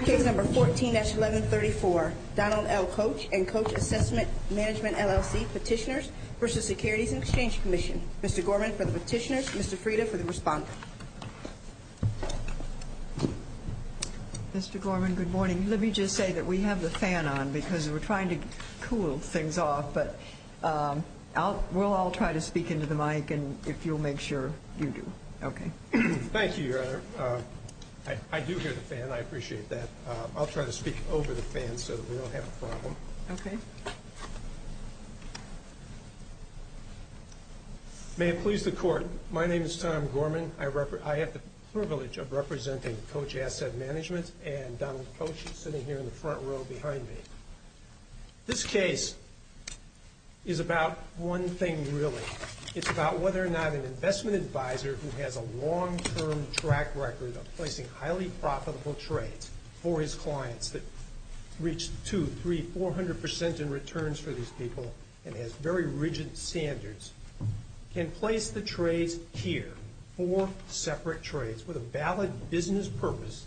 Case number 14-1134, Donald L. Koch and Koch Assessment Management, LLC, Petitioners v. Securities and Exchange Commission. Mr. Gorman for the petitioners, Mr. Frieda for the respondent. Mr. Gorman, good morning. Let me just say that we have the fan on because we're trying to cool things off, but we'll all try to speak into the mic if you'll make sure you do. Okay. Thank you, Your Honor. I do hear the fan. I appreciate that. I'll try to speak over the fan so that we don't have a problem. Okay. May it please the Court, my name is Tom Gorman. I have the privilege of representing Koch Asset Management and Donald Koch sitting here in the front row behind me. This case is about one thing really. It's about whether or not an investment advisor who has a long-term track record of placing highly profitable trades for his clients that reach two, three, four hundred percent in returns for these people and has very rigid standards can place the trades here, four separate trades with a valid business purpose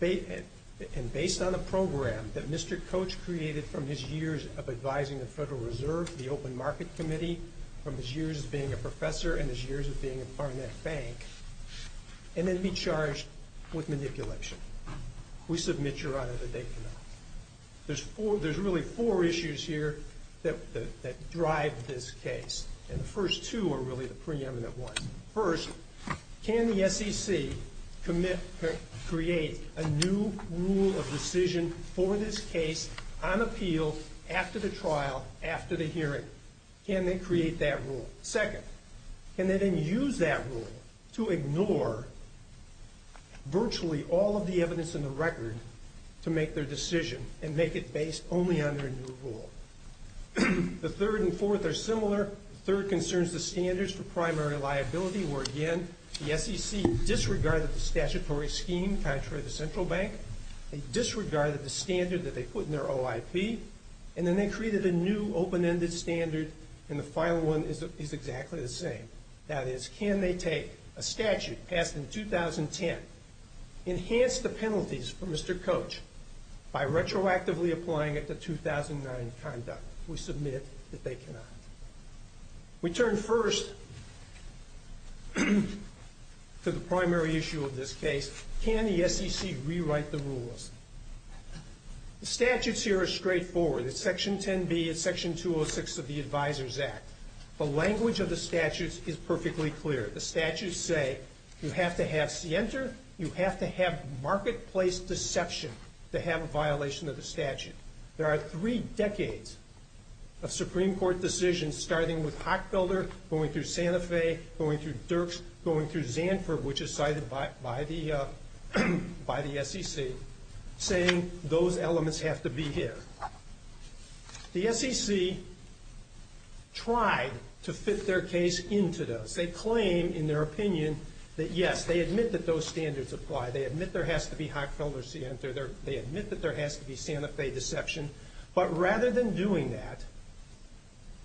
and based on a program that Mr. Koch created from his years of advising the Federal Reserve, the Open Market Committee, from his years of being a professor and his years of being a part of that bank and then be charged with manipulation. We submit, Your Honor, that they cannot. There's really four issues here that drive this case, and the first two are really the preeminent ones. First, can the SEC create a new rule of decision for this case on appeal after the trial, after the hearing? Can they create that rule? Second, can they then use that rule to ignore virtually all of the evidence in the record to make their decision and make it based only on their new rule? The third and fourth are similar. The third concerns the standards for primary liability where, again, the SEC disregarded the statutory scheme contrary to the Central Bank. They disregarded the standard that they put in their OIP, and then they created a new open-ended standard, and the final one is exactly the same. That is, can they take a statute passed in 2010, enhance the penalties for Mr. Koch by retroactively applying it to 2009 conduct? We submit that they cannot. We turn first to the primary issue of this case. Can the SEC rewrite the rules? The statutes here are straightforward. It's Section 10B, it's Section 206 of the Advisors Act. The language of the statutes is perfectly clear. The statutes say you have to have scienter, you have to have marketplace deception to have a violation of the statute. There are three decades of Supreme Court decisions starting with Hockfelder, going through Santa Fe, going through Dirks, going through Zanford, which is cited by the SEC, saying those elements have to be here. The SEC tried to fit their case into those. They claim in their opinion that, yes, they admit that those standards apply. They admit there has to be Hockfelder scienter. They admit that there has to be Santa Fe deception. But rather than doing that,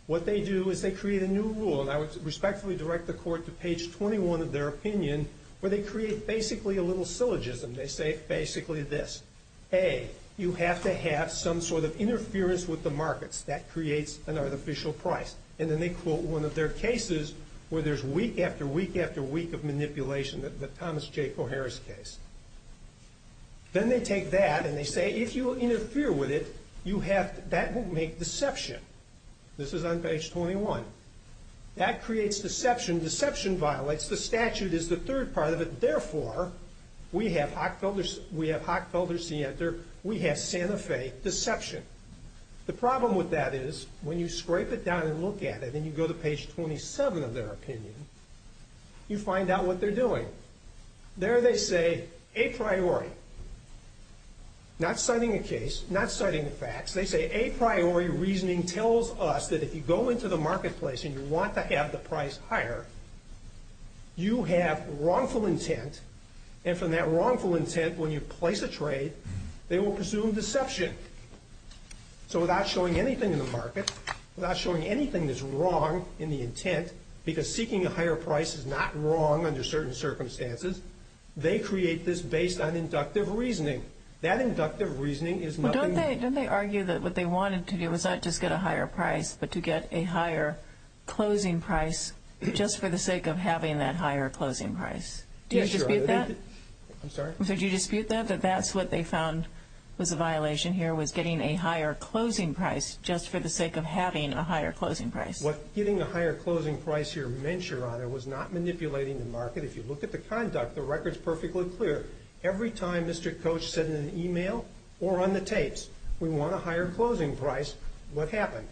what they do is they create a new rule, and I would respectfully direct the Court to page 21 of their opinion, where they create basically a little syllogism. They say basically this. A, you have to have some sort of interference with the markets. That creates an artificial price. And then they quote one of their cases where there's week after week after week of manipulation, the Thomas J. Coharris case. Then they take that and they say if you interfere with it, that will make deception. This is on page 21. That creates deception. Deception violates the statute is the third part of it. Therefore, we have Hockfelder scienter. We have Santa Fe deception. The problem with that is when you scrape it down and look at it and you go to page 27 of their opinion, you find out what they're doing. There they say a priori, not citing a case, not citing the facts. They say a priori reasoning tells us that if you go into the marketplace and you want to have the price higher, you have wrongful intent, and from that wrongful intent when you place a trade, they will presume deception. So without showing anything in the market, without showing anything that's wrong in the intent, because seeking a higher price is not wrong under certain circumstances, they create this based on inductive reasoning. That inductive reasoning is nothing more. Well, don't they argue that what they wanted to do was not just get a higher price but to get a higher closing price just for the sake of having that higher closing price? Do you dispute that? I'm sorry? So do you dispute that, that that's what they found was a violation here, was getting a higher closing price just for the sake of having a higher closing price? What getting a higher closing price here meant, Your Honor, was not manipulating the market. If you look at the conduct, the record's perfectly clear. Every time Mr. Koch said in an email or on the tapes, we want a higher closing price, what happened?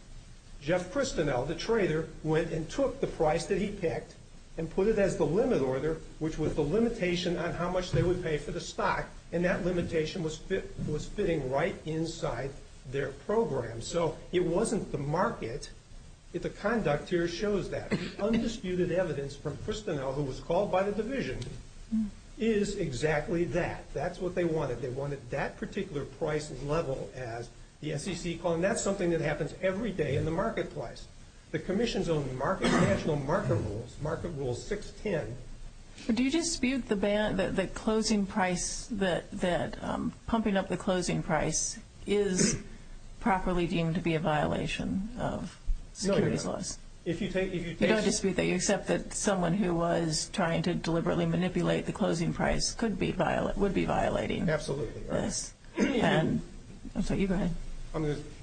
Jeff Kristinell, the trader, went and took the price that he picked and put it as the limit order, which was the limitation on how much they would pay for the stock, and that limitation was fitting right inside their program. So it wasn't the market. The conduct here shows that. The undisputed evidence from Kristinell, who was called by the division, is exactly that. That's what they wanted. They wanted that particular price level as the SEC called it, and that's something that happens every day in the marketplace. The Commission's own national market rules, Market Rule 610. Do you dispute the closing price, that pumping up the closing price is properly deemed to be a violation of securities laws? No, Your Honor. You don't dispute that? You accept that someone who was trying to deliberately manipulate the closing price would be violating this? Absolutely, Your Honor. And so you go ahead.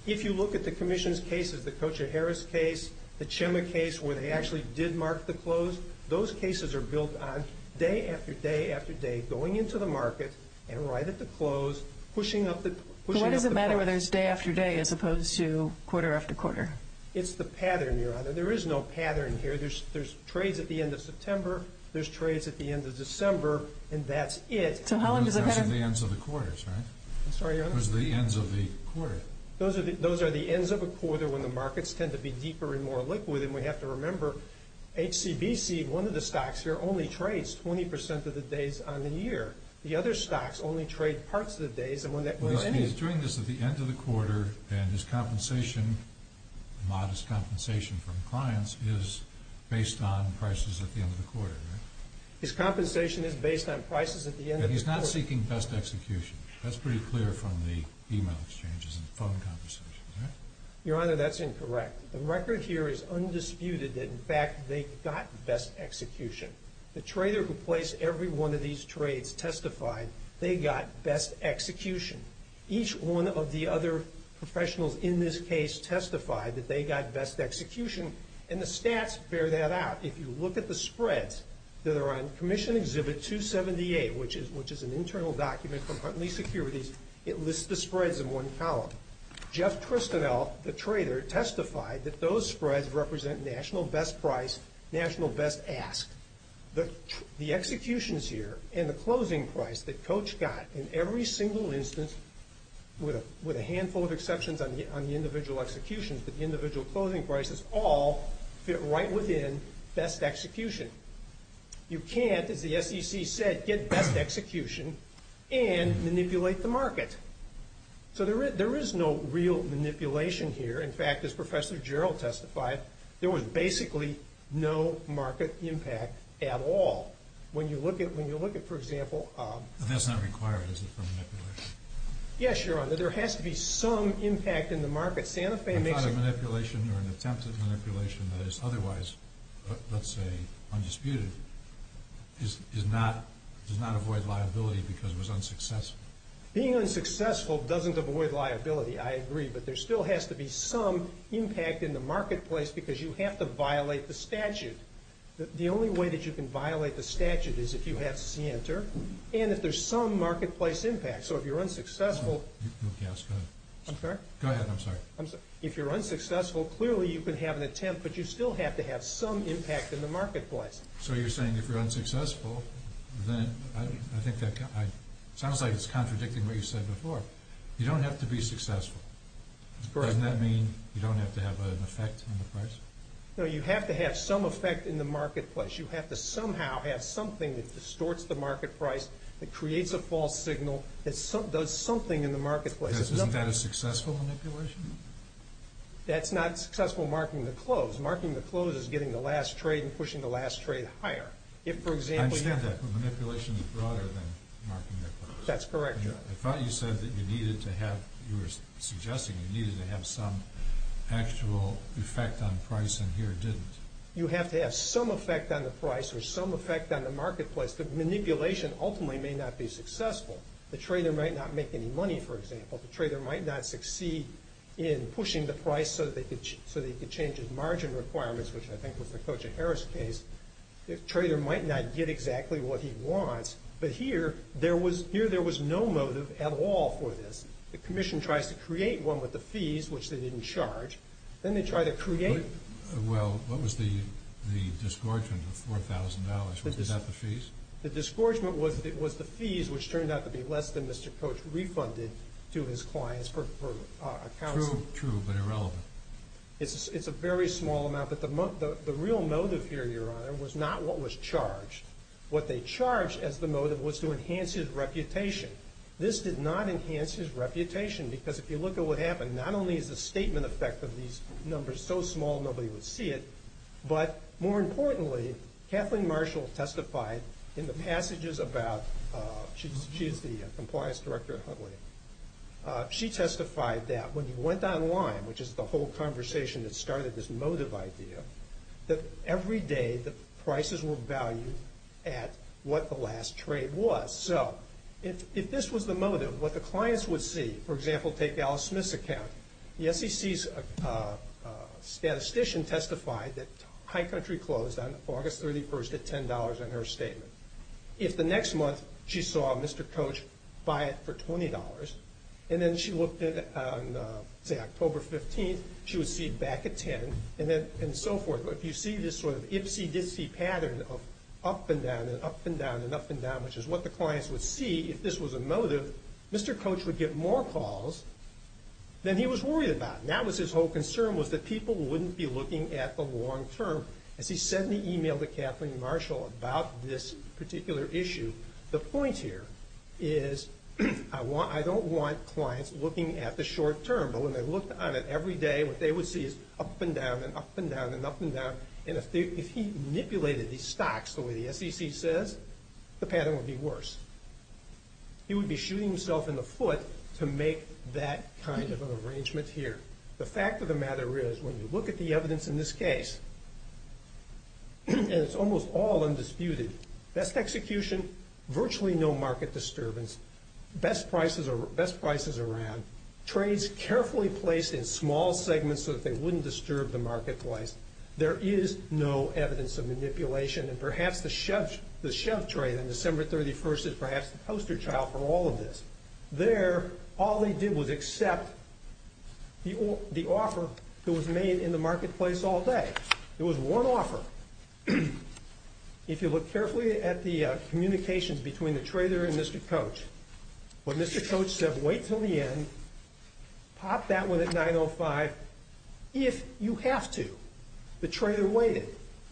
If you look at the Commission's cases, the Kocher-Harris case, the Chema case, where they actually did mark the close, those cases are built on day after day after day going into the market and right at the close, pushing up the price. But what does it matter whether it's day after day as opposed to quarter after quarter? It's the pattern, Your Honor. There is no pattern here. There's trades at the end of September. There's trades at the end of December, and that's it. So how long does it matter? Those are the ends of the quarters, right? I'm sorry, Your Honor. Those are the ends of the quarter. Those are the ends of a quarter when the markets tend to be deeper and more liquid, and we have to remember HCBC, one of the stocks here, only trades 20% of the days on the year. The other stocks only trade parts of the days. He's doing this at the end of the quarter, and his compensation, modest compensation from clients, is based on prices at the end of the quarter, right? His compensation is based on prices at the end of the quarter. But he's not seeking best execution. That's pretty clear from the e-mail exchanges and phone conversations, right? Your Honor, that's incorrect. The record here is undisputed that, in fact, they got best execution. The trader who placed every one of these trades testified they got best execution. Each one of the other professionals in this case testified that they got best execution, and the stats bear that out. If you look at the spreads that are on Commission Exhibit 278, which is an internal document from Huntley Securities, it lists the spreads in one column. Jeff Tristanel, the trader, testified that those spreads represent national best price, national best ask. The executions here and the closing price that Coach got in every single instance, with a handful of exceptions on the individual executions, but the individual closing prices all fit right within best execution. You can't, as the SEC said, get best execution and manipulate the market. So there is no real manipulation here. In fact, as Professor Gerald testified, there was basically no market impact at all. When you look at, for example— That's not required, is it, for manipulation? Yes, Your Honor. There has to be some impact in the market. I thought a manipulation or an attempt at manipulation that is otherwise, let's say, undisputed, does not avoid liability because it was unsuccessful. Being unsuccessful doesn't avoid liability, I agree, but there still has to be some impact in the marketplace because you have to violate the statute. The only way that you can violate the statute is if you have scienter, and if there's some marketplace impact. So if you're unsuccessful— I'm sorry? Go ahead, I'm sorry. If you're unsuccessful, clearly you can have an attempt, but you still have to have some impact in the marketplace. So you're saying if you're unsuccessful, then I think that— it sounds like it's contradicting what you said before. You don't have to be successful. Doesn't that mean you don't have to have an effect on the price? No, you have to have some effect in the marketplace. You have to somehow have something that distorts the market price, that creates a false signal, that does something in the marketplace. Isn't that a successful manipulation? That's not successful marking the close. Marking the close is getting the last trade and pushing the last trade higher. If, for example— I understand that, but manipulation is broader than marking the close. That's correct. I thought you said that you needed to have— you were suggesting you needed to have some actual effect on price, and here it didn't. You have to have some effect on the price or some effect on the marketplace, but manipulation ultimately may not be successful. The trader might not make any money, for example. The trader might not succeed in pushing the price so that he could change his margin requirements, which I think was the Kocha-Harris case. The trader might not get exactly what he wants, but here there was no motive at all for this. The commission tries to create one with the fees, which they didn't charge. Then they try to create— Well, what was the disgorgement of $4,000? Was that the fees? The disgorgement was the fees, which turned out to be less than Mr. Kocha refunded to his clients per account. True, true, but irrelevant. It's a very small amount, but the real motive here, Your Honor, was not what was charged. What they charged as the motive was to enhance his reputation. This did not enhance his reputation because if you look at what happened, not only is the statement effect of these numbers so small nobody would see it, but more importantly, Kathleen Marshall testified in the passages about— she is the compliance director at Huntley. She testified that when you went online, which is the whole conversation that started this motive idea, that every day the prices were valued at what the last trade was. So if this was the motive, what the clients would see, for example, take Alice Smith's account. The SEC's statistician testified that High Country closed on August 31st at $10 on her statement. If the next month she saw Mr. Kocha buy it for $20 and then she looked at it on, say, October 15th, she would see it back at $10 and so forth. But if you see this sort of ipsy-dipsy pattern of up and down and up and down and up and down, which is what the clients would see if this was a motive, Mr. Kocha would get more calls than he was worried about. Now his whole concern was that people wouldn't be looking at the long term. As he said in the email to Kathleen Marshall about this particular issue, the point here is I don't want clients looking at the short term. But when they looked at it every day, what they would see is up and down and up and down and up and down. And if he manipulated these stocks the way the SEC says, the pattern would be worse. He would be shooting himself in the foot to make that kind of an arrangement here. The fact of the matter is when you look at the evidence in this case, and it's almost all undisputed, best execution, virtually no market disturbance, best prices around, trades carefully placed in small segments so that they wouldn't disturb the marketplace, there is no evidence of manipulation. And perhaps the shove trade on December 31st is perhaps the poster child for all of this. There, all they did was accept the offer that was made in the marketplace all day. It was one offer. If you look carefully at the communications between the trader and Mr. Kocha, when Mr. Kocha said, wait until the end, pop that one at 905, if you have to, the trader waited.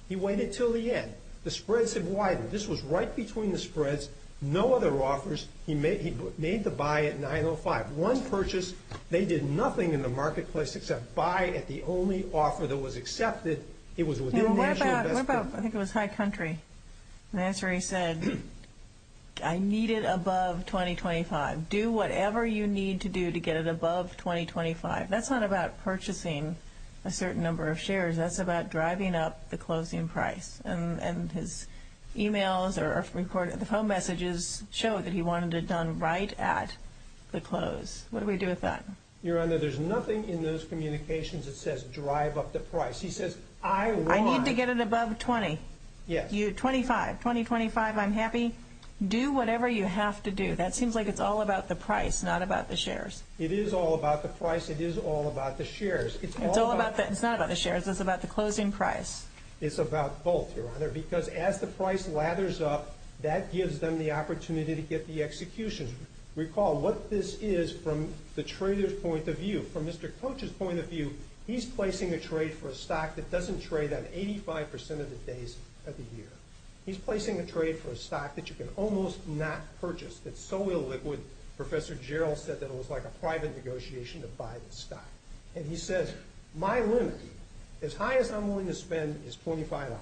He waited until the end. The spreads have widened. This was right between the spreads. No other offers. He made the buy at 905. One purchase. They did nothing in the marketplace except buy at the only offer that was accepted. It was within the issue of best performance. What about, I think it was High Country. The answer he said, I need it above 2025. Do whatever you need to do to get it above 2025. That's not about purchasing a certain number of shares. That's about driving up the closing price. And his e-mails or phone messages show that he wanted it done right at the close. What do we do with that? Your Honor, there's nothing in those communications that says drive up the price. He says, I want. I need to get it above 20. Yes. 25. 2025, I'm happy. Do whatever you have to do. That seems like it's all about the price, not about the shares. It is all about the price. It is all about the shares. It's all about the. It's not about the shares. It's about the closing price. It's about both, Your Honor, because as the price lathers up, that gives them the opportunity to get the execution. Recall what this is from the trader's point of view. From Mr. Coach's point of view, he's placing a trade for a stock that doesn't trade on 85% of the days of the year. He's placing a trade for a stock that you can almost not purchase. That's so illiquid. Professor Gerald said that it was like a private negotiation to buy the stock. And he says, my limit, as high as I'm willing to spend, is $25.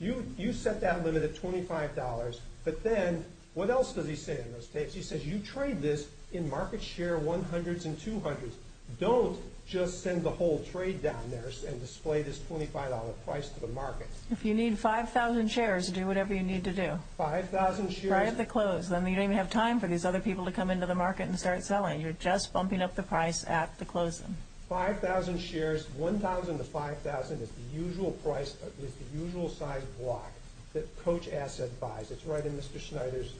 You set that limit at $25. But then what else does he say in those tapes? He says, you trade this in market share 100s and 200s. Don't just send the whole trade down there and display this $25 price to the market. If you need 5,000 shares, do whatever you need to do. 5,000 shares. Right at the close. Then you don't even have time for these other people to come into the market and start selling. You're just bumping up the price at the closing. 5,000 shares. 1,000 to 5,000 is the usual size block that Coach Asset buys. It's right in Mr. Schneider's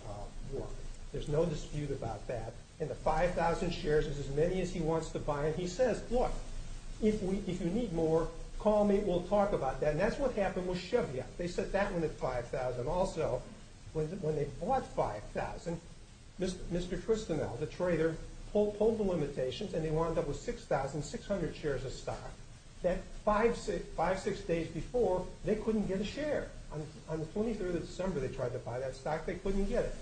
work. There's no dispute about that. And the 5,000 shares is as many as he wants to buy. And he says, look, if you need more, call me. We'll talk about that. And that's what happened with Chevy. They set that one at 5,000. When they bought 5,000, Mr. Tristanel, the trader, pulled the limitations and they wound up with 6,600 shares of stock. That five, six days before, they couldn't get a share. On the 23rd of December, they tried to buy that stock. They couldn't get it.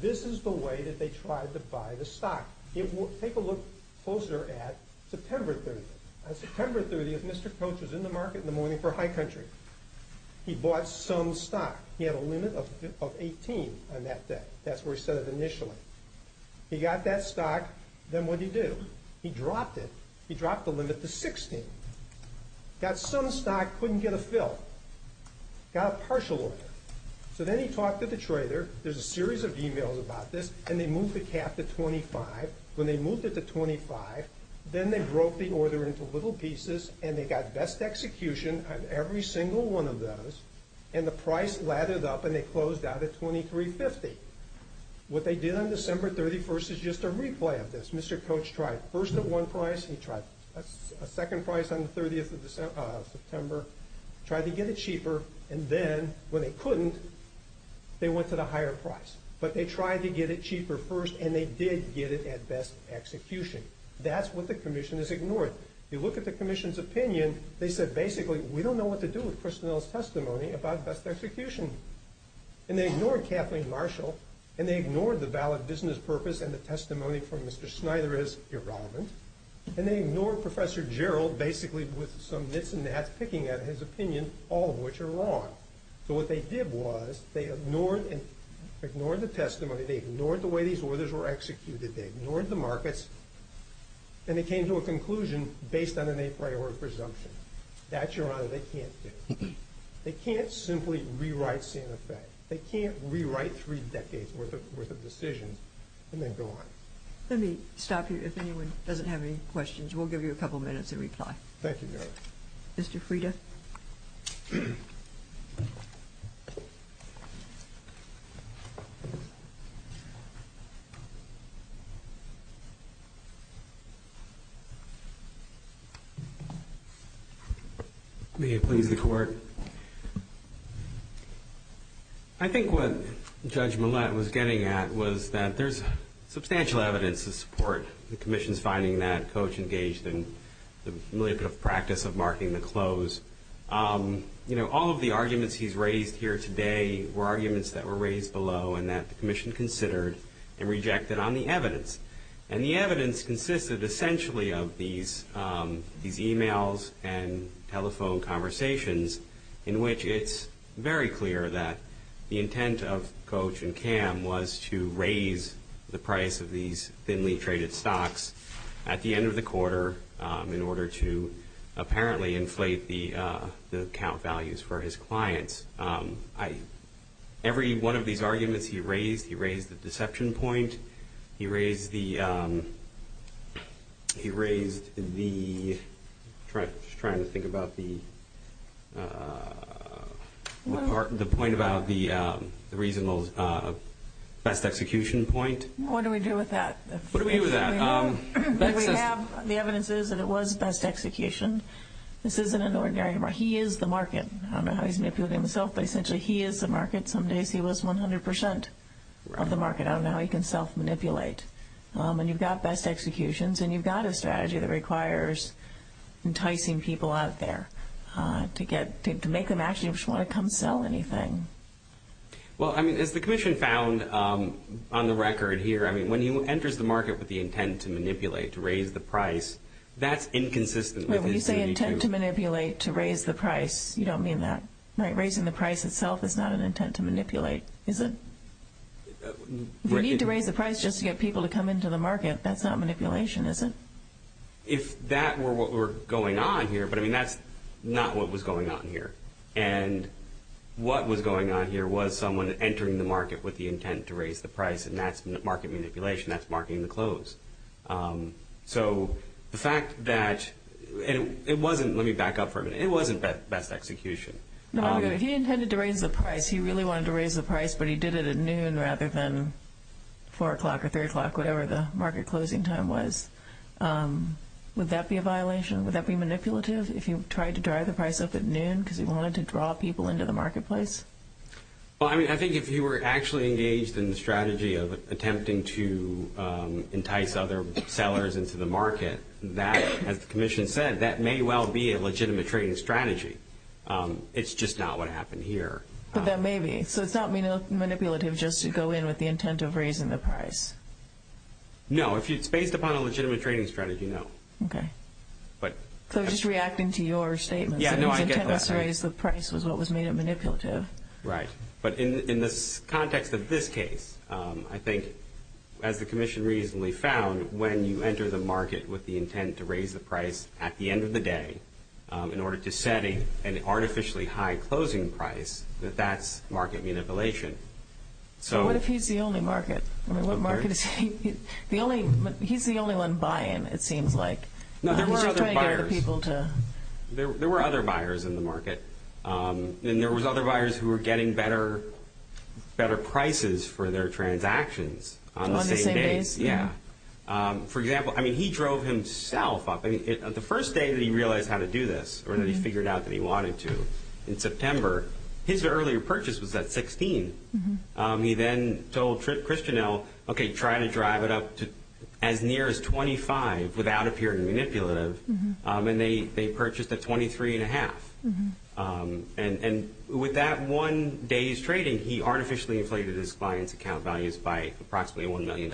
This is the way that they tried to buy the stock. Take a look closer at September 30th. On September 30th, Mr. Coach was in the market in the morning for High Country. He bought some stock. He had a limit of 18 on that day. That's where he set it initially. He got that stock. Then what did he do? He dropped it. He dropped the limit to 16. Got some stock, couldn't get a fill. Got a partial order. So then he talked to the trader. There's a series of emails about this. And they moved the cap to 25. When they moved it to 25, then they broke the order into little pieces. And they got best execution on every single one of those. And the price lathered up, and they closed out at 23.50. What they did on December 31st is just a replay of this. Mr. Coach tried first at one price. He tried a second price on the 30th of September. Tried to get it cheaper. And then, when they couldn't, they went to the higher price. But they tried to get it cheaper first, and they did get it at best execution. That's what the commission has ignored. If you look at the commission's opinion, they said, Basically, we don't know what to do with Kristinell's testimony about best execution. And they ignored Kathleen Marshall, and they ignored the valid business purpose and the testimony from Mr. Snyder as irrelevant. And they ignored Professor Gerald, basically with some nits and nats picking at his opinion, all of which are wrong. So what they did was they ignored the testimony. They ignored the way these orders were executed. They ignored the markets. And they came to a conclusion based on an a priori presumption. That, Your Honor, they can't do. They can't simply rewrite Santa Fe. They can't rewrite three decades' worth of decisions and then go on. Let me stop you. If anyone doesn't have any questions, we'll give you a couple minutes to reply. Thank you, Your Honor. Mr. Frieda. May it please the Court. I think what Judge Millett was getting at was that there's substantial evidence to support the commission's finding that Coach engaged in the familiar practice of marking the close. You know, all of the arguments he's raised here today were arguments that were raised below and that the commission considered and rejected on the evidence. And the evidence consisted essentially of these e-mails and telephone conversations in which it's very clear that the intent of Coach and Cam was to raise the price of these thinly traded stocks at the end of the quarter in order to apparently inflate the account values for his clients. Every one of these arguments he raised, he raised the deception point. He raised the point about the reasonable best execution point. What do we do with that? What do we do with that? The evidence is that it was best execution. This isn't an ordinary remark. He is the market. I don't know how he's manipulating himself, but essentially he is the market. Some days he was 100 percent of the market. I don't know how he can self-manipulate. And you've got best executions and you've got a strategy that requires enticing people out there to make them actually just want to come sell anything. Well, I mean, as the commission found on the record here, I mean, when he enters the market with the intent to manipulate, to raise the price, that's inconsistent with his duty to- Wait, when you say intent to manipulate to raise the price, you don't mean that, right? You need to raise the price just to get people to come into the market. That's not manipulation, is it? If that were what were going on here, but, I mean, that's not what was going on here. And what was going on here was someone entering the market with the intent to raise the price, and that's market manipulation. That's marketing the clothes. So the fact that-and it wasn't-let me back up for a minute. It wasn't best execution. No, I'm good. He intended to raise the price. He really wanted to raise the price, but he did it at noon rather than 4 o'clock or 3 o'clock, whatever the market closing time was. Would that be a violation? Would that be manipulative if he tried to drive the price up at noon because he wanted to draw people into the marketplace? Well, I mean, I think if he were actually engaged in the strategy of attempting to entice other sellers into the market, that, as the commission said, that may well be a legitimate trading strategy. It's just not what happened here. But that may be. So it's not manipulative just to go in with the intent of raising the price? No. If it's based upon a legitimate trading strategy, no. Okay. So just reacting to your statement. Yeah, no, I get that. His intent to raise the price was what was made it manipulative. Right. But in the context of this case, I think, as the commission reasonably found, when you enter the market with the intent to raise the price at the end of the day in order to set an artificially high closing price, that that's market manipulation. So what if he's the only market? I mean, what market is he? He's the only one buying, it seems like. No, there were other buyers. They weren't trying to get other people to. There were other buyers in the market. And there was other buyers who were getting better prices for their transactions on the same days. On the same days. Yeah. For example, I mean, he drove himself up. The first day that he realized how to do this, or that he figured out that he wanted to, in September, his earlier purchase was at $16. He then told Christianel, okay, try to drive it up to as near as $25 without appearing manipulative. And they purchased at $23.5. And with that one day's trading, he artificially inflated his client's account values by approximately $1 million.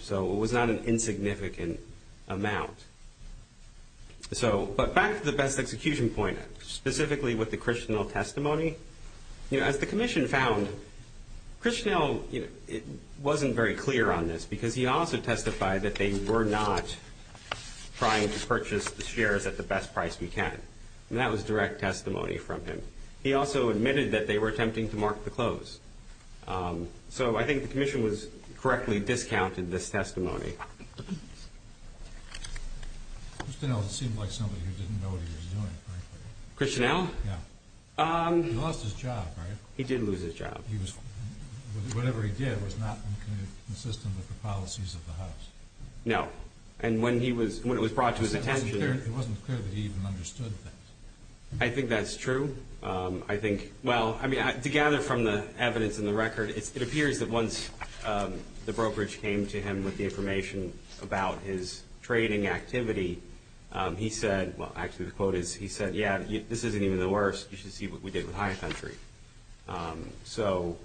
So it was not an insignificant amount. But back to the best execution point, specifically with the Christianel testimony. As the commission found, Christianel wasn't very clear on this, because he also testified that they were not trying to purchase the shares at the best price we can. And that was direct testimony from him. He also admitted that they were attempting to mark the close. So I think the commission correctly discounted this testimony. Christianel seemed like somebody who didn't know what he was doing, frankly. Christianel? Yeah. He lost his job, right? He did lose his job. Whatever he did was not consistent with the policies of the house. No. And when it was brought to his attention. It wasn't clear that he even understood that. I think that's true. I think, well, I mean, to gather from the evidence in the record, it appears that once the brokerage came to him with the information about his trading activity, he said, well, actually the quote is, he said, yeah, this isn't even the worst. You should see what we did with Hyatt Country. So,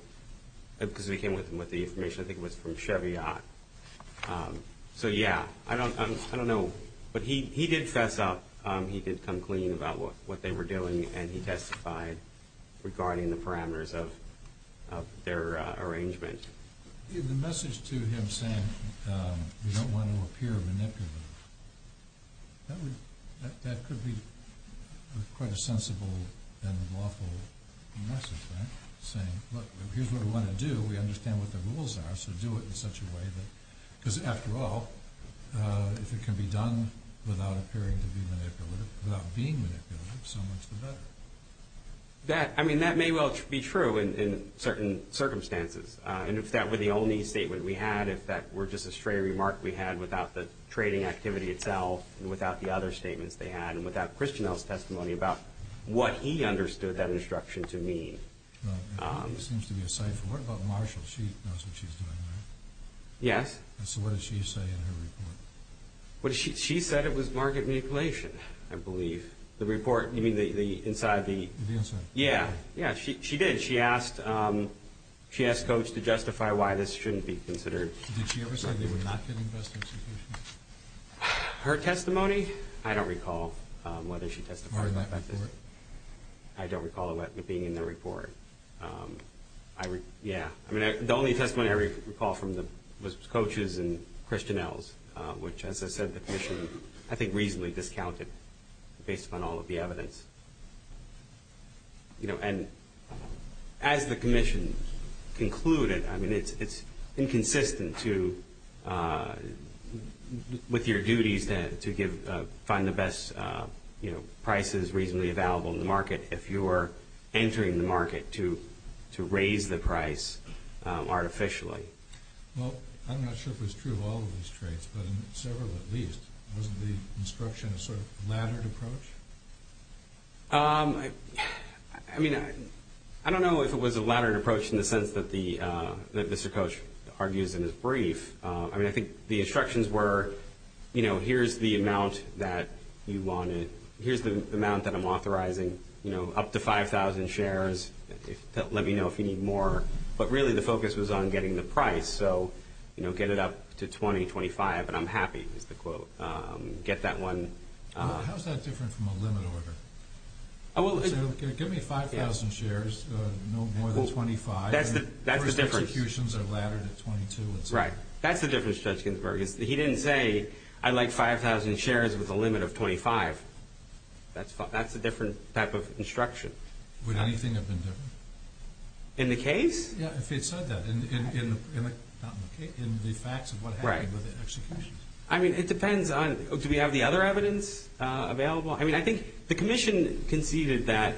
because we came with the information, I think it was from Chevy Yacht. So, yeah. I don't know. But he did fess up. He did come clean about what they were doing, and he testified regarding the parameters of their arrangement. The message to him saying we don't want to appear manipulative, that could be quite a sensible and lawful message, right? Saying, look, here's what we want to do. We understand what the rules are, so do it in such a way that, because, after all, if it can be done without appearing to be manipulative, without being manipulative, so much the better. That, I mean, that may well be true in certain circumstances. And if that were the only statement we had, if that were just a straight remark we had without the trading activity itself, and without the other statements they had, and without Christianel's testimony about what he understood that instruction to mean. It seems to be a cipher. What about Marshall? She knows what she's doing, right? Yes. So what did she say in her report? She said it was market manipulation, I believe. The report, you mean the inside? The inside. Yeah. Yeah, she did. She asked Coach to justify why this shouldn't be considered. Did she ever say they were not getting best execution? Her testimony? I don't recall whether she testified about that. I don't recall it being in the report. Yeah. I mean, the only testimony I recall was Coach's and Christianel's, which, as I said, the commission, I think, reasonably discounted, based upon all of the evidence. And as the commission concluded, I mean, it's inconsistent with your duties to find the best prices reasonably available in the market if you are entering the market to raise the price artificially. Well, I'm not sure if it's true of all of these traits, but in several at least. Wasn't the instruction a sort of laddered approach? I mean, I don't know if it was a laddered approach in the sense that Mr. Coach argues in his brief. I mean, I think the instructions were, you know, here's the amount that I'm authorizing, you know, up to 5,000 shares. Let me know if you need more. But really the focus was on getting the price. So, you know, get it up to 20, 25, and I'm happy, is the quote. Get that one. How is that different from a limit order? Give me 5,000 shares, no more than 25. That's the difference. First executions are laddered at 22. Right. That's the difference, Judge Ginsburg. He didn't say I'd like 5,000 shares with a limit of 25. That's a different type of instruction. Would anything have been different? In the case? Yeah, if he had said that. In the facts of what happened with the executions. I mean, it depends on do we have the other evidence available? I mean, I think the commission conceded that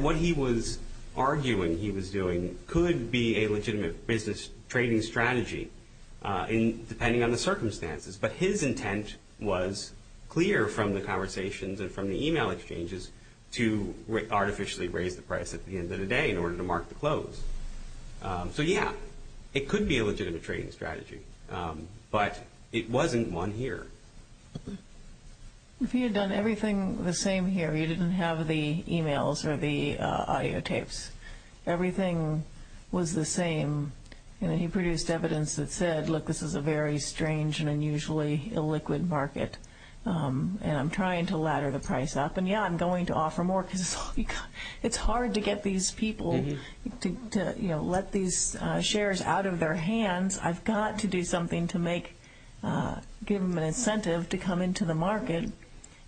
what he was arguing he was doing could be a legitimate business trading strategy depending on the circumstances. But his intent was clear from the conversations and from the e-mail exchanges to artificially raise the price at the end of the day in order to mark the close. So, yeah, it could be a legitimate trading strategy. But it wasn't one here. If he had done everything the same here, you didn't have the e-mails or the audio tapes. Everything was the same. He produced evidence that said, look, this is a very strange and unusually illiquid market. And I'm trying to ladder the price up. And, yeah, I'm going to offer more because it's hard to get these people to let these shares out of their hands. I've got to do something to give them an incentive to come into the market.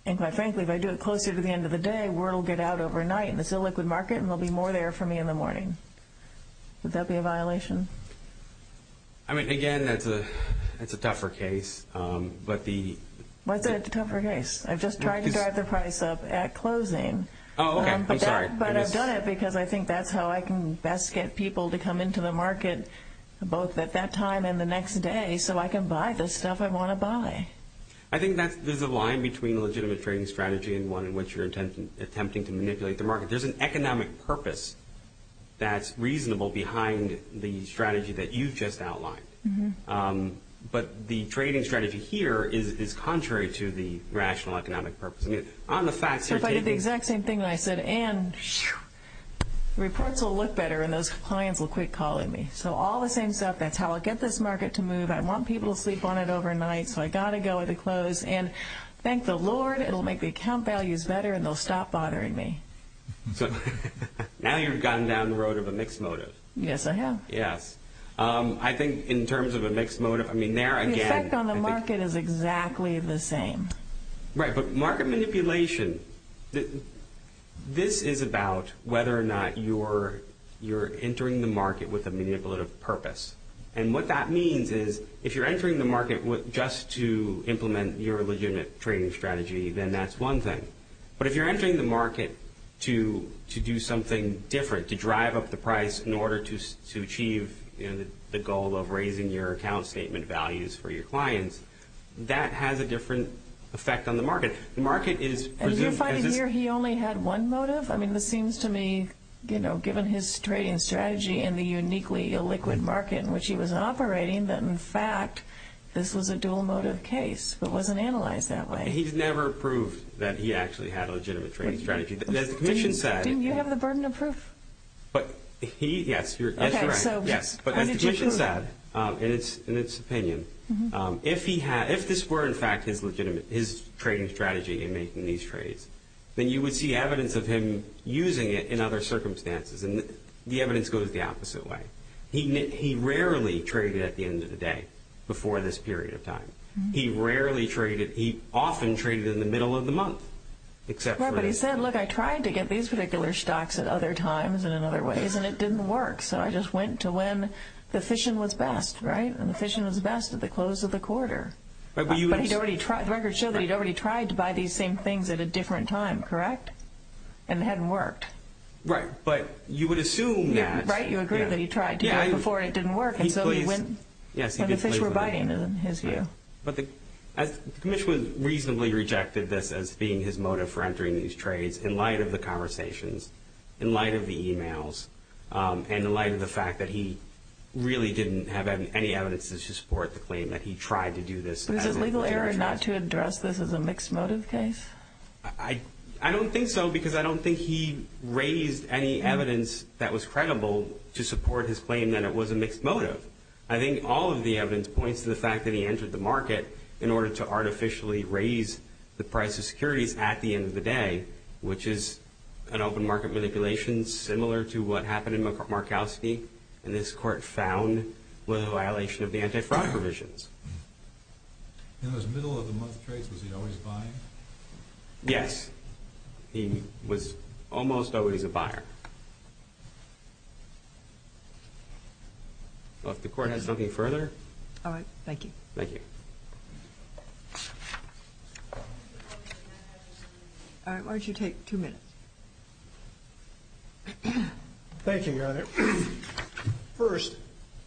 And, quite frankly, if I do it closer to the end of the day, the word will get out overnight in this illiquid market, and there will be more there for me in the morning. Would that be a violation? I mean, again, that's a tougher case. What's a tougher case? I've just tried to drive the price up at closing. Oh, okay. I'm sorry. But I've done it because I think that's how I can best get people to come into the market, both at that time and the next day, so I can buy the stuff I want to buy. I think there's a line between a legitimate trading strategy and one in which you're attempting to manipulate the market. There's an economic purpose that's reasonable behind the strategy that you've just outlined. But the trading strategy here is contrary to the rational economic purpose. So if I did the exact same thing that I said, and reports will look better, and those clients will quit calling me. So all the same stuff, that's how I'll get this market to move. I want people to sleep on it overnight, so I've got to go at the close. And thank the Lord, it'll make the account values better, and they'll stop bothering me. Now you've gotten down the road of a mixed motive. Yes, I have. Yes. I think in terms of a mixed motive, I mean, there again— The effect on the market is exactly the same. Right, but market manipulation, this is about whether or not you're entering the market with a manipulative purpose. And what that means is if you're entering the market just to implement your legitimate trading strategy, then that's one thing. But if you're entering the market to do something different, to drive up the price in order to achieve the goal of raising your account statement values for your clients, that has a different effect on the market. The market is— And you're finding here he only had one motive? I mean, this seems to me, you know, given his trading strategy and the uniquely illiquid market in which he was operating, that in fact this was a dual motive case, but it wasn't analyzed that way. He's never proved that he actually had a legitimate trading strategy. As the Commission said— Didn't you have the burden of proof? But he—yes, you're right. Okay, so— And the evidence goes the opposite way. He rarely traded at the end of the day before this period of time. He rarely traded—he often traded in the middle of the month, except for— Right, but he said, look, I tried to get these particular stocks at other times and in other ways, and it didn't work. So I just went to when the fission was best, right? And the fission was best at the close of the quarter. But he'd already tried—the records show that he'd already tried to buy these same things at a different time, correct? And it hadn't worked. Right, but you would assume that— Right, you agree that he tried to do it before and it didn't work, and so he went when the fish were biting, in his view. But the Commission reasonably rejected this as being his motive for entering these trades in light of the conversations, in light of the e-mails, and in light of the fact that he really didn't have any evidence to support the claim that he tried to do this— But is it legal error not to address this as a mixed motive case? I don't think so, because I don't think he raised any evidence that was credible to support his claim that it was a mixed motive. I think all of the evidence points to the fact that he entered the market in order to artificially raise the price of securities at the end of the day, which is an open market manipulation similar to what happened in Markowski, and this Court found was a violation of the anti-fraud provisions. In those middle-of-the-month trades, was he always buying? Yes, he was almost always a buyer. Well, if the Court has nothing further— All right, thank you. Thank you. All right, why don't you take two minutes? Thank you, Your Honor. First,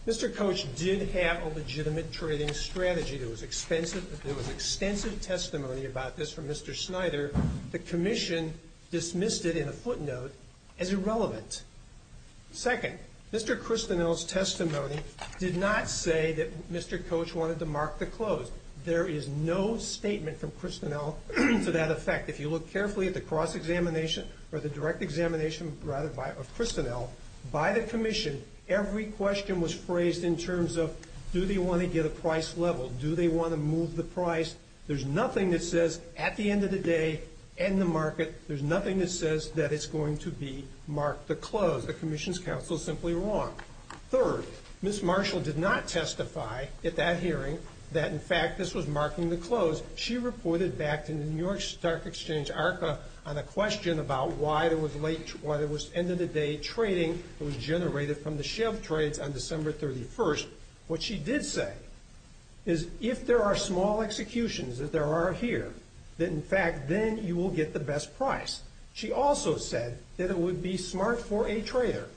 Mr. Coach did have a legitimate trading strategy. There was extensive testimony about this from Mr. Snyder. The Commission dismissed it in a footnote as irrelevant. Second, Mr. Christenel's testimony did not say that Mr. Coach wanted to mark the close. There is no statement from Christenel to that effect. In fact, if you look carefully at the cross-examination, or the direct examination, rather, of Christenel, by the Commission, every question was phrased in terms of, do they want to get a price level? Do they want to move the price? There's nothing that says, at the end of the day, end the market. There's nothing that says that it's going to be marked the close. The Commission's counsel is simply wrong. Third, Ms. Marshall did not testify at that hearing that, in fact, this was marking the close. She reported back to the New York Stock Exchange ARCA on a question about why there was end-of-the-day trading that was generated from the Chev trades on December 31st. What she did say is, if there are small executions, as there are here, that, in fact, then you will get the best price. She also said that it would be smart for a trader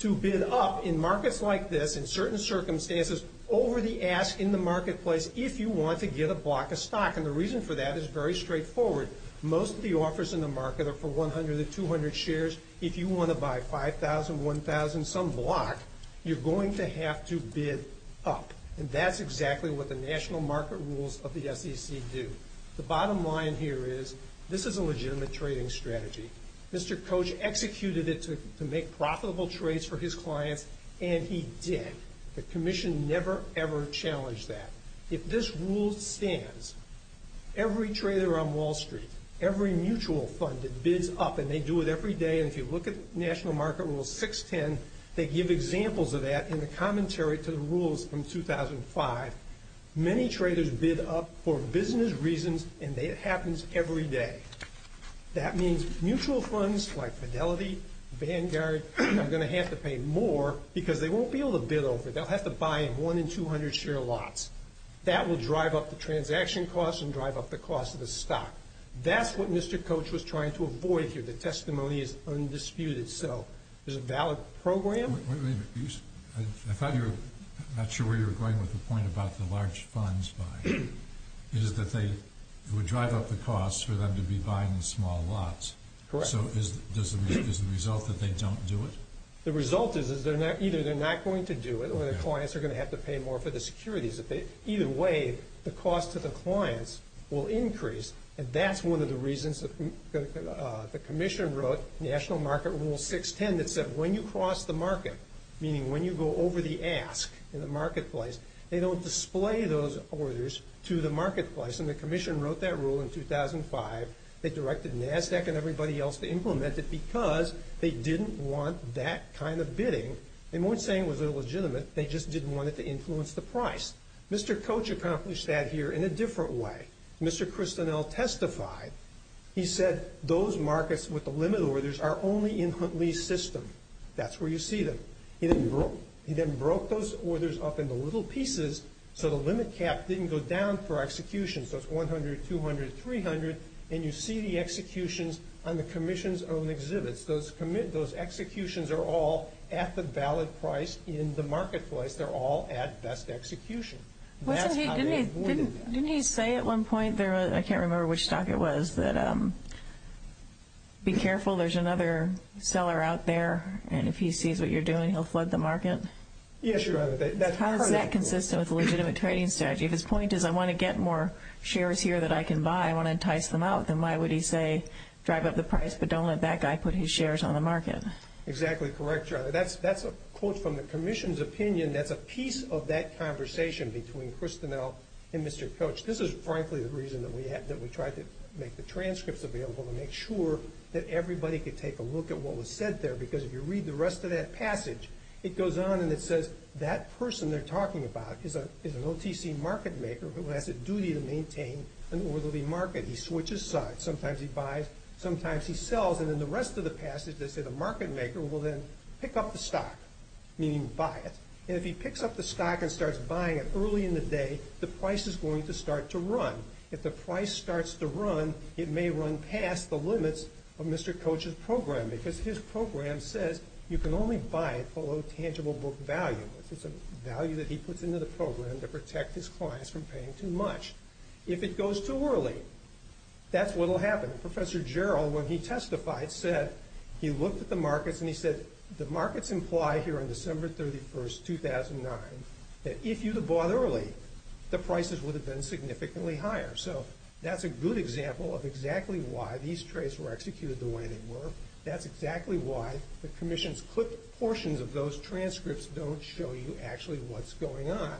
to bid up in markets like this, in certain circumstances, over the ask in the marketplace, if you want to get a block of stock. And the reason for that is very straightforward. Most of the offers in the market are for 100 to 200 shares. If you want to buy 5,000, 1,000, some block, you're going to have to bid up. And that's exactly what the national market rules of the SEC do. The bottom line here is, this is a legitimate trading strategy. Mr. Koch executed it to make profitable trades for his clients, and he did. The Commission never, ever challenged that. If this rule stands, every trader on Wall Street, every mutual fund that bids up, and they do it every day, and if you look at National Market Rule 610, they give examples of that in the commentary to the rules from 2005. Many traders bid up for business reasons, and it happens every day. That means mutual funds like Fidelity, Vanguard, are going to have to pay more because they won't be able to bid over. They'll have to buy in 1 in 200 share lots. That will drive up the transaction costs and drive up the cost of the stock. That's what Mr. Koch was trying to avoid here. The testimony is undisputed. So there's a valid program. Wait a minute. I thought you were not sure where you were going with the point about the large funds buying. It is that they would drive up the cost for them to be buying in small lots. Correct. So is the result that they don't do it? The result is either they're not going to do it or the clients are going to have to pay more for the securities. Either way, the cost to the clients will increase, and that's one of the reasons the commission wrote National Market Rule 610 that said when you cross the market, meaning when you go over the ask in the marketplace, they don't display those orders to the marketplace, and the commission wrote that rule in 2005. They directed NASDAQ and everybody else to implement it because they didn't want that kind of bidding. They weren't saying it was illegitimate. They just didn't want it to influence the price. Mr. Koch accomplished that here in a different way. Mr. Kristinell testified. He said those markets with the limit orders are only in Huntley's system. That's where you see them. He then broke those orders up into little pieces so the limit cap didn't go down for execution. So it's 100, 200, 300, and you see the executions on the commission's own exhibits. Those executions are all at the valid price in the marketplace. They're all at best execution. That's how they avoided that. Didn't he say at one point, I can't remember which stock it was, that be careful, there's another seller out there, and if he sees what you're doing, he'll flood the market? Yes, Your Honor. How is that consistent with a legitimate trading strategy? If his point is I want to get more shares here that I can buy, I want to entice them out, then why would he say drive up the price but don't let that guy put his shares on the market? Exactly correct, Your Honor. That's a quote from the commission's opinion. That's a piece of that conversation between Kristinell and Mr. Koch. This is, frankly, the reason that we tried to make the transcripts available to make sure that everybody could take a look at what was said there because if you read the rest of that passage, it goes on and it says, that person they're talking about is an OTC market maker who has a duty to maintain an orderly market. He switches sides. Sometimes he buys, sometimes he sells, and in the rest of the passage, they say the market maker will then pick up the stock, meaning buy it, and if he picks up the stock and starts buying it early in the day, the price is going to start to run. If the price starts to run, it may run past the limits of Mr. Koch's program because his program says you can only buy it below tangible book value. It's a value that he puts into the program to protect his clients from paying too much. If it goes too early, that's what will happen. Professor Jarrell, when he testified, said he looked at the markets and he said, the markets imply here on December 31, 2009, that if you had bought early, the prices would have been significantly higher. So that's a good example of exactly why these trades were executed the way they were. That's exactly why the commission's quick portions of those transcripts don't show you actually what's going on.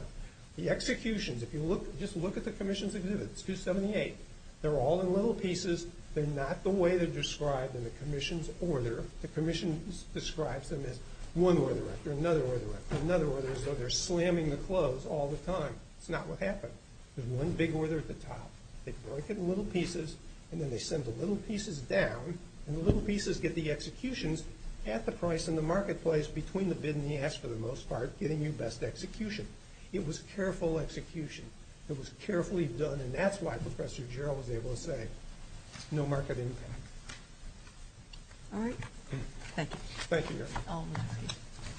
The executions, if you look, just look at the commission's exhibits, 278. They're all in little pieces. They're not the way they're described in the commission's order. The commission describes them as one order after another order after another order, as though they're slamming the clothes all the time. That's not what happened. There's one big order at the top. They break it in little pieces, and then they send the little pieces down, and the little pieces get the executions at the price in the marketplace between the bid and the ask, for the most part, getting you best execution. It was careful execution. It was carefully done, and that's why Professor Jarrell was able to say, no market impact. All right. Thank you. Thank you.